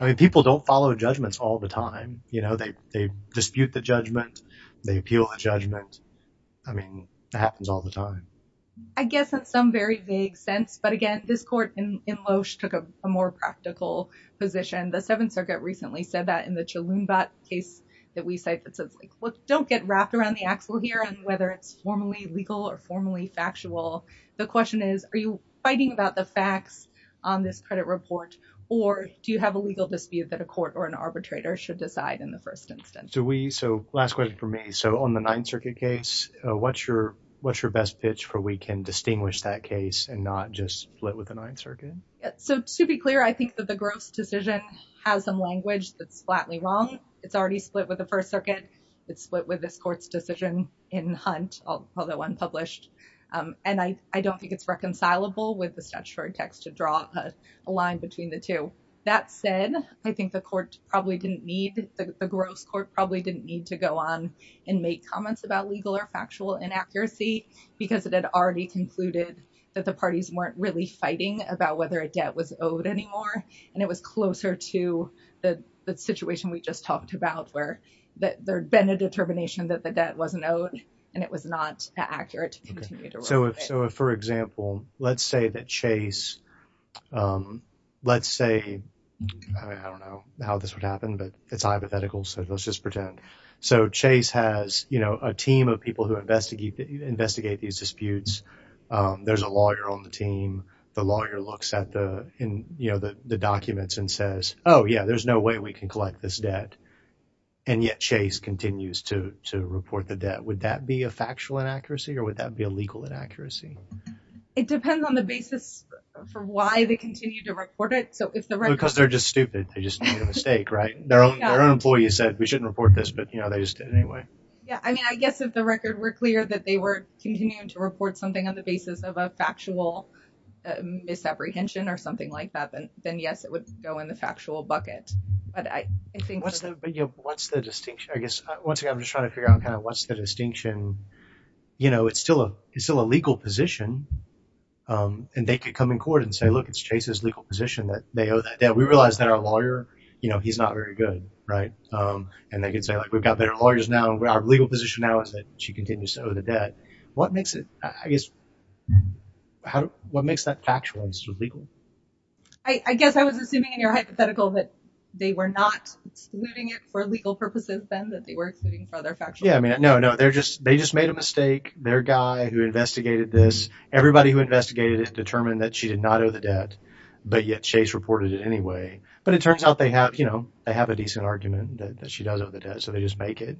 I mean, people don't follow judgments all the time. You know, they dispute the judgment. They appeal the judgment. I mean, that happens all the time. I guess in some very vague sense. But again, this court in Loesch took a more practical position. The Seventh Circuit recently said that in the Chalumbat case that we cite that says, don't get wrapped around the axle here on whether it's formally legal or formally factual. The question is, are you fighting about the facts on this credit report, or do you have a legal dispute that a court or an arbitrator should decide in the first instance? So we, so last question for me. So on the Ninth Circuit case, what's your best pitch for we can distinguish that case and not just split with the Ninth Circuit? So to be clear, I think that the Gross decision has some language that's flatly wrong. It's already split with the First Circuit. It's split with this court's decision in Hunt, although unpublished. And I don't think it's reconcilable with the statutory text to draw a line between the two. That said, I think the court probably didn't need, the Gross court probably didn't need to go on and make comments about legal or factual inaccuracy because it had already concluded that the parties weren't really fighting about whether a debt was owed anymore. And it was closer to the situation we just talked about where that there'd been a determination that the debt wasn't owed and it was not accurate. So if, so if, for example, let's say that Chase, let's say, I don't know how this would happen, but it's hypothetical. So let's just pretend. So Chase has, you know, a team of people who investigate these disputes. There's a lawyer on the team. The lawyer looks at the, you know, the documents and says, oh yeah, there's no way we can collect this debt. And yet Chase continues to report the debt. Would that be a factual inaccuracy or would that be a legal inaccuracy? It depends on the basis for why they continue to report it. So if the record- Because they're just stupid. They just made a mistake, right? Their own employees said we shouldn't report this, but you know, they just did anyway. Yeah. I mean, I guess if the record were clear that they were continuing to report something on factual misapprehension or something like that, then yes, it would go in the factual bucket. But I think- What's the, you know, what's the distinction? I guess, once again, I'm just trying to figure out kind of what's the distinction. You know, it's still a, it's still a legal position. And they could come in court and say, look, it's Chase's legal position that they owe that debt. We realize that our lawyer, you know, he's not very good, right? And they could say, like, we've got better lawyers now. Our legal position now is that she continues to owe the debt. What makes it, I guess, how, what makes that factual instead of legal? I guess I was assuming in your hypothetical that they were not excluding it for legal purposes then, that they were excluding for other factual- Yeah, I mean, no, no. They're just, they just made a mistake. Their guy who investigated this, everybody who investigated it determined that she did not owe the debt, but yet Chase reported it anyway. But it turns out they have, you know, they have a decent argument that she does owe the debt. So they just make it.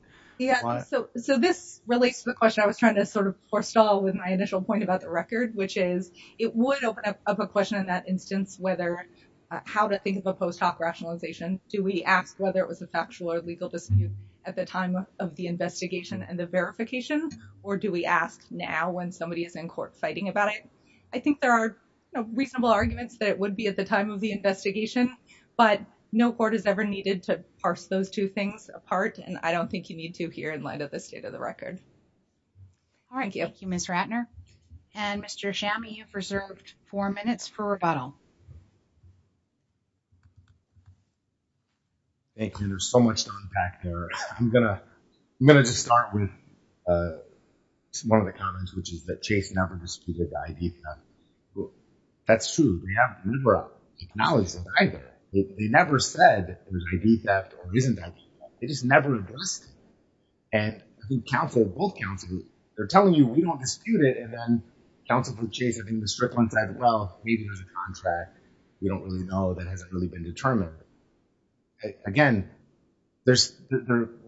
So this relates to the question I was trying to sort of forestall with my initial point about the record, which is it would open up a question in that instance, whether, how to think of a post hoc rationalization. Do we ask whether it was a factual or legal dispute at the time of the investigation and the verification? Or do we ask now when somebody is in court fighting about it? I think there are reasonable arguments that it would be at the time of the investigation, but no court has ever needed to parse those two things apart. And I don't think you need to here in light of this state of the record. All right, thank you, Ms. Ratner. And Mr. Chami, you've reserved four minutes for rebuttal. Thank you. There's so much to unpack there. I'm gonna, I'm gonna just start with one of the comments, which is that Chase never disputed the ID theft. That's true. They have never acknowledged it either. They never said there's an ID theft or isn't an ID theft. They just never addressed it. And I think counsel, both counsel, they're telling you we don't dispute it. And then counsel for Chase, I think the strict one said, well, maybe there's a contract. We don't really know that hasn't really been determined. Again, there's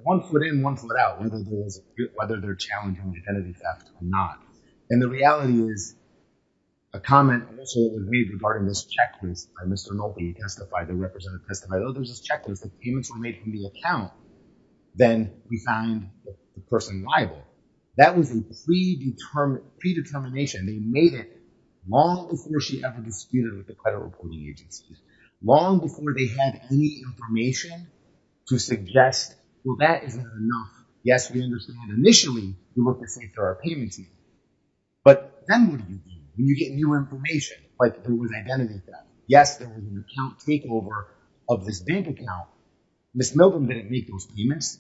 one foot in, one foot out, whether they're challenging identity theft or not. And the reality is a comment also with me regarding this checklist by Mr. Nolte. He testified, the representative testified, oh, there's this checklist. The payments were made from the account. Then we find the person liable. That was a predetermined, predetermination. They made it long before she ever disputed with the credit reporting agencies, long before they had any information to suggest, well, that isn't enough. Yes, we understand. Initially, we looked at, say, for our payment team, but then what do you do when you get new information? Like there was identity theft. Yes, there was an account takeover of this bank account. Ms. Milgram didn't make those payments.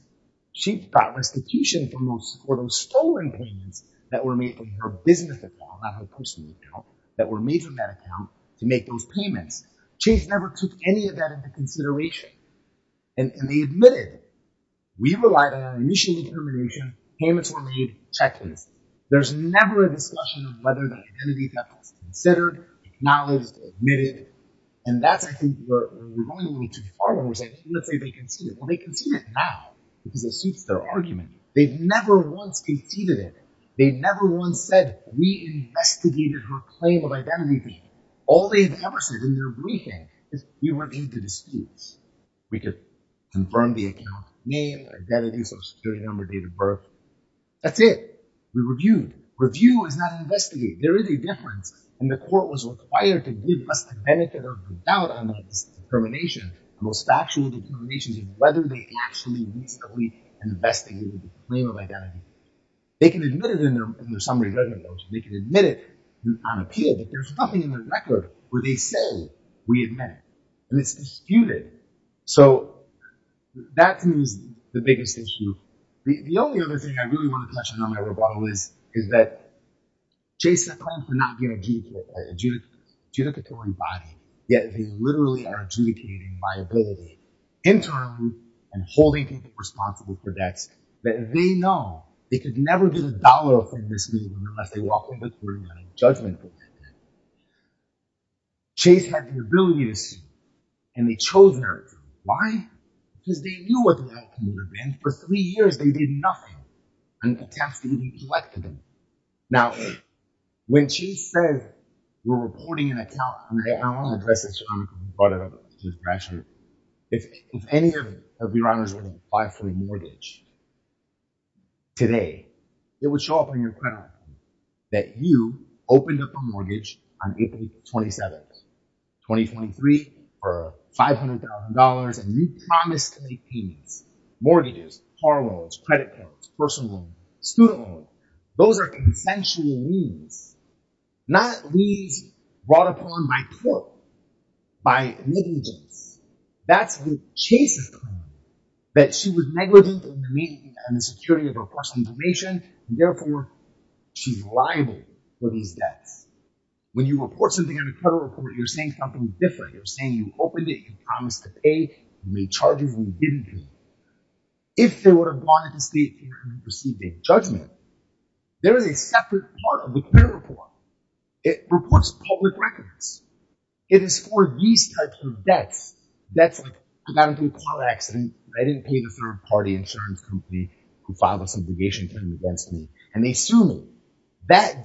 She got restitution for those stolen payments that were made from her business account, not her personal account, that were made from that account to make those payments. Chase never took any of that into consideration. And they admitted, we relied on our initial determination. Payments were made, checklist. There's never a discussion of whether the identity theft was considered, acknowledged, admitted. And that's, I think, where we're going a little too far, where we're saying, let's say they conceded. Well, they conceded now because it suits their argument. They've never once conceded it. They never once said, we investigated her claim of identity theft. All they've ever said in their briefing is, we weren't into disputes. We could confirm the account name, identity, social security number, date of birth. That's it. We reviewed. Review is not investigate. There is a difference. And the court was required to give us the benefit of the doubt on this determination, the most factual determinations of whether they actually reasonably investigated the claim of identity. They can admit it in their summary judgment approach. They can admit it on appeal. But there's nothing in the record where they say, we admit it. And it's disputed. So that to me is the biggest issue. The only other thing I really want to touch on in my rebuttal is, that Chase claims to not be an adjudicatory body, yet they literally are adjudicating liability internally and holding people responsible for debts that they know they could never get a dollar off in this meeting unless they walk in this room and a judgment is made. Chase had the ability to see, and they chose not to. Why? Because they knew what the outcome would have been. For three years, they did nothing. And the accounts needed to be collected. Now, when Chase says, we're reporting an account on their own, I want to address this, John, because you brought it up to the press here. If any of your honors were to apply for a mortgage today, it would show up on your credit report that you opened up a mortgage on April 27th, 2023, for $500,000. And you promised to make payments, mortgages, car loans, credit cards, personal loans, student loans, those are consensual liens, not liens brought upon by court, by negligence. That's what Chase is claiming, that she was negligent in the maintenance and the security of her personal information. And therefore, she's liable for these debts. When you report something on a credit report, you're saying something different. You're saying you opened it, you promised to pay, you made charges and you didn't pay. If they would have gone into state and you received a judgment, there is a separate part of the credit report. It reports public records. It is for these types of debts, debts like I got into a car accident, I didn't pay the third party insurance company who filed this obligation claim against me and they sued me. That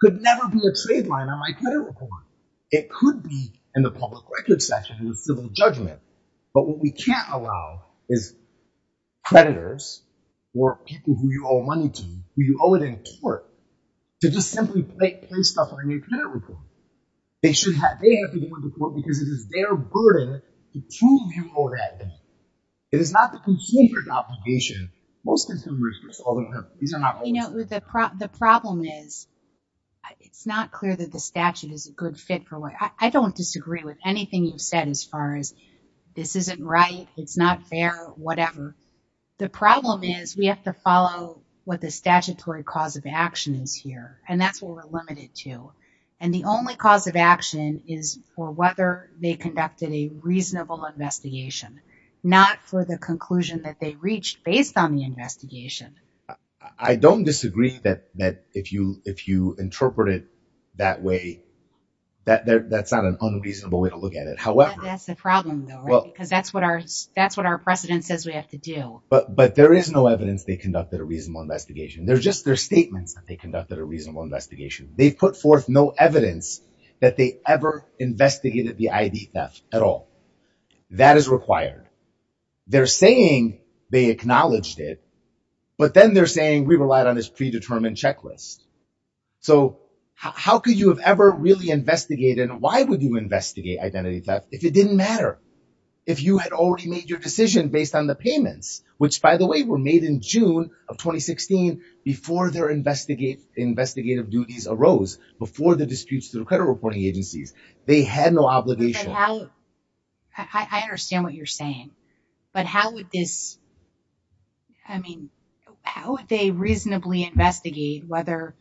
could never be a trade line on my credit report. It could be in the public records section of the civil judgment. But what we can't allow is creditors or people who you owe money to, who you owe it in court, to just simply place stuff on a new credit report. They have to go into court because it is their burden to prove you owe that debt. It is not the consumer's obligation. Most consumers, these are not- You know, the problem is, it's not clear that the statute is a good fit for what... I don't disagree with anything you've said as far as this isn't right, it's not fair, whatever. The problem is we have to follow what the statutory cause of action is here and that's what we're limited to. And the only cause of action is for whether they conducted a reasonable investigation, not for the conclusion that they reached based on the investigation. I don't disagree that if you interpret it that way, that's not an unreasonable way to look at it. That's the problem though, right? Because that's what our precedent says we have to do. But there is no evidence they conducted a reasonable investigation. They're just their statements that they conducted a reasonable investigation. They've put forth no evidence that they ever investigated the ID theft at all. That is required. They're saying they acknowledged it, but then they're saying we relied on this predetermined checklist. So how could you have ever really investigated and why would you investigate identity theft if it didn't matter? If you had already made your decision based on the payments, which by the way were made in June of 2016 before their investigative duties arose, before the disputes through credit reporting agencies, they had no obligation. But how, I understand what you're saying, but how would this, I mean, how would they reasonably investigate whether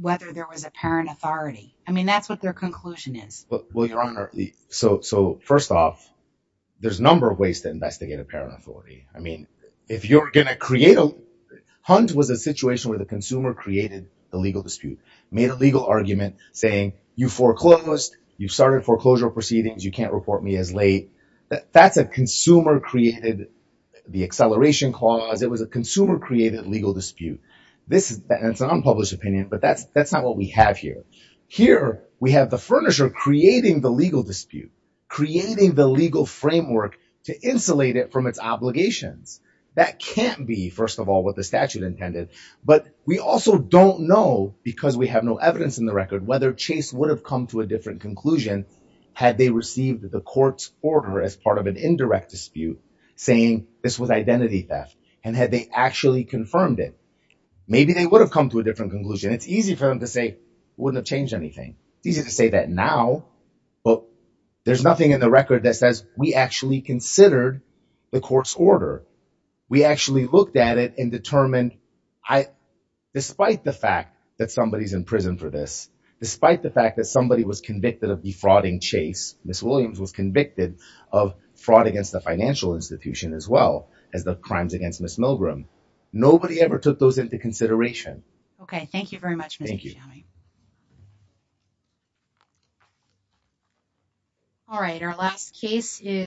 there was apparent authority? I mean, that's what their conclusion is. Well, Your Honor, so first off, there's a number of ways to investigate apparent authority. I mean, if you're going to create a, Hunt was a situation where the consumer created a legal dispute, made a legal argument saying you foreclosed, you started foreclosure proceedings, you can't report me as late. That's a consumer created the acceleration clause. It was a consumer created legal dispute. This is an unpublished opinion, but that's not what we have here. Here we have the furnisher creating the legal dispute, creating the legal framework to insulate it from its obligations. That can't be, first of all, what the statute intended, but we also don't know because we have no evidence in the record whether Chase would have come to a different conclusion had they received the court's order as part of an indirect dispute saying this was identity theft and had they actually confirmed it. Maybe they would have come to a different conclusion. It's easy for them to say, it wouldn't have changed anything. It's easy to say that now, but there's nothing in the record that says we actually considered the court's order. We actually looked at it and determined despite the fact that somebody's in prison for this, despite the fact that somebody was convicted of defrauding Chase, Ms. Williams was convicted of fraud against the financial institution as well as the crimes against Ms. Milgram. Nobody ever took those into consideration. Okay. Thank you very much. All right. Our last case is.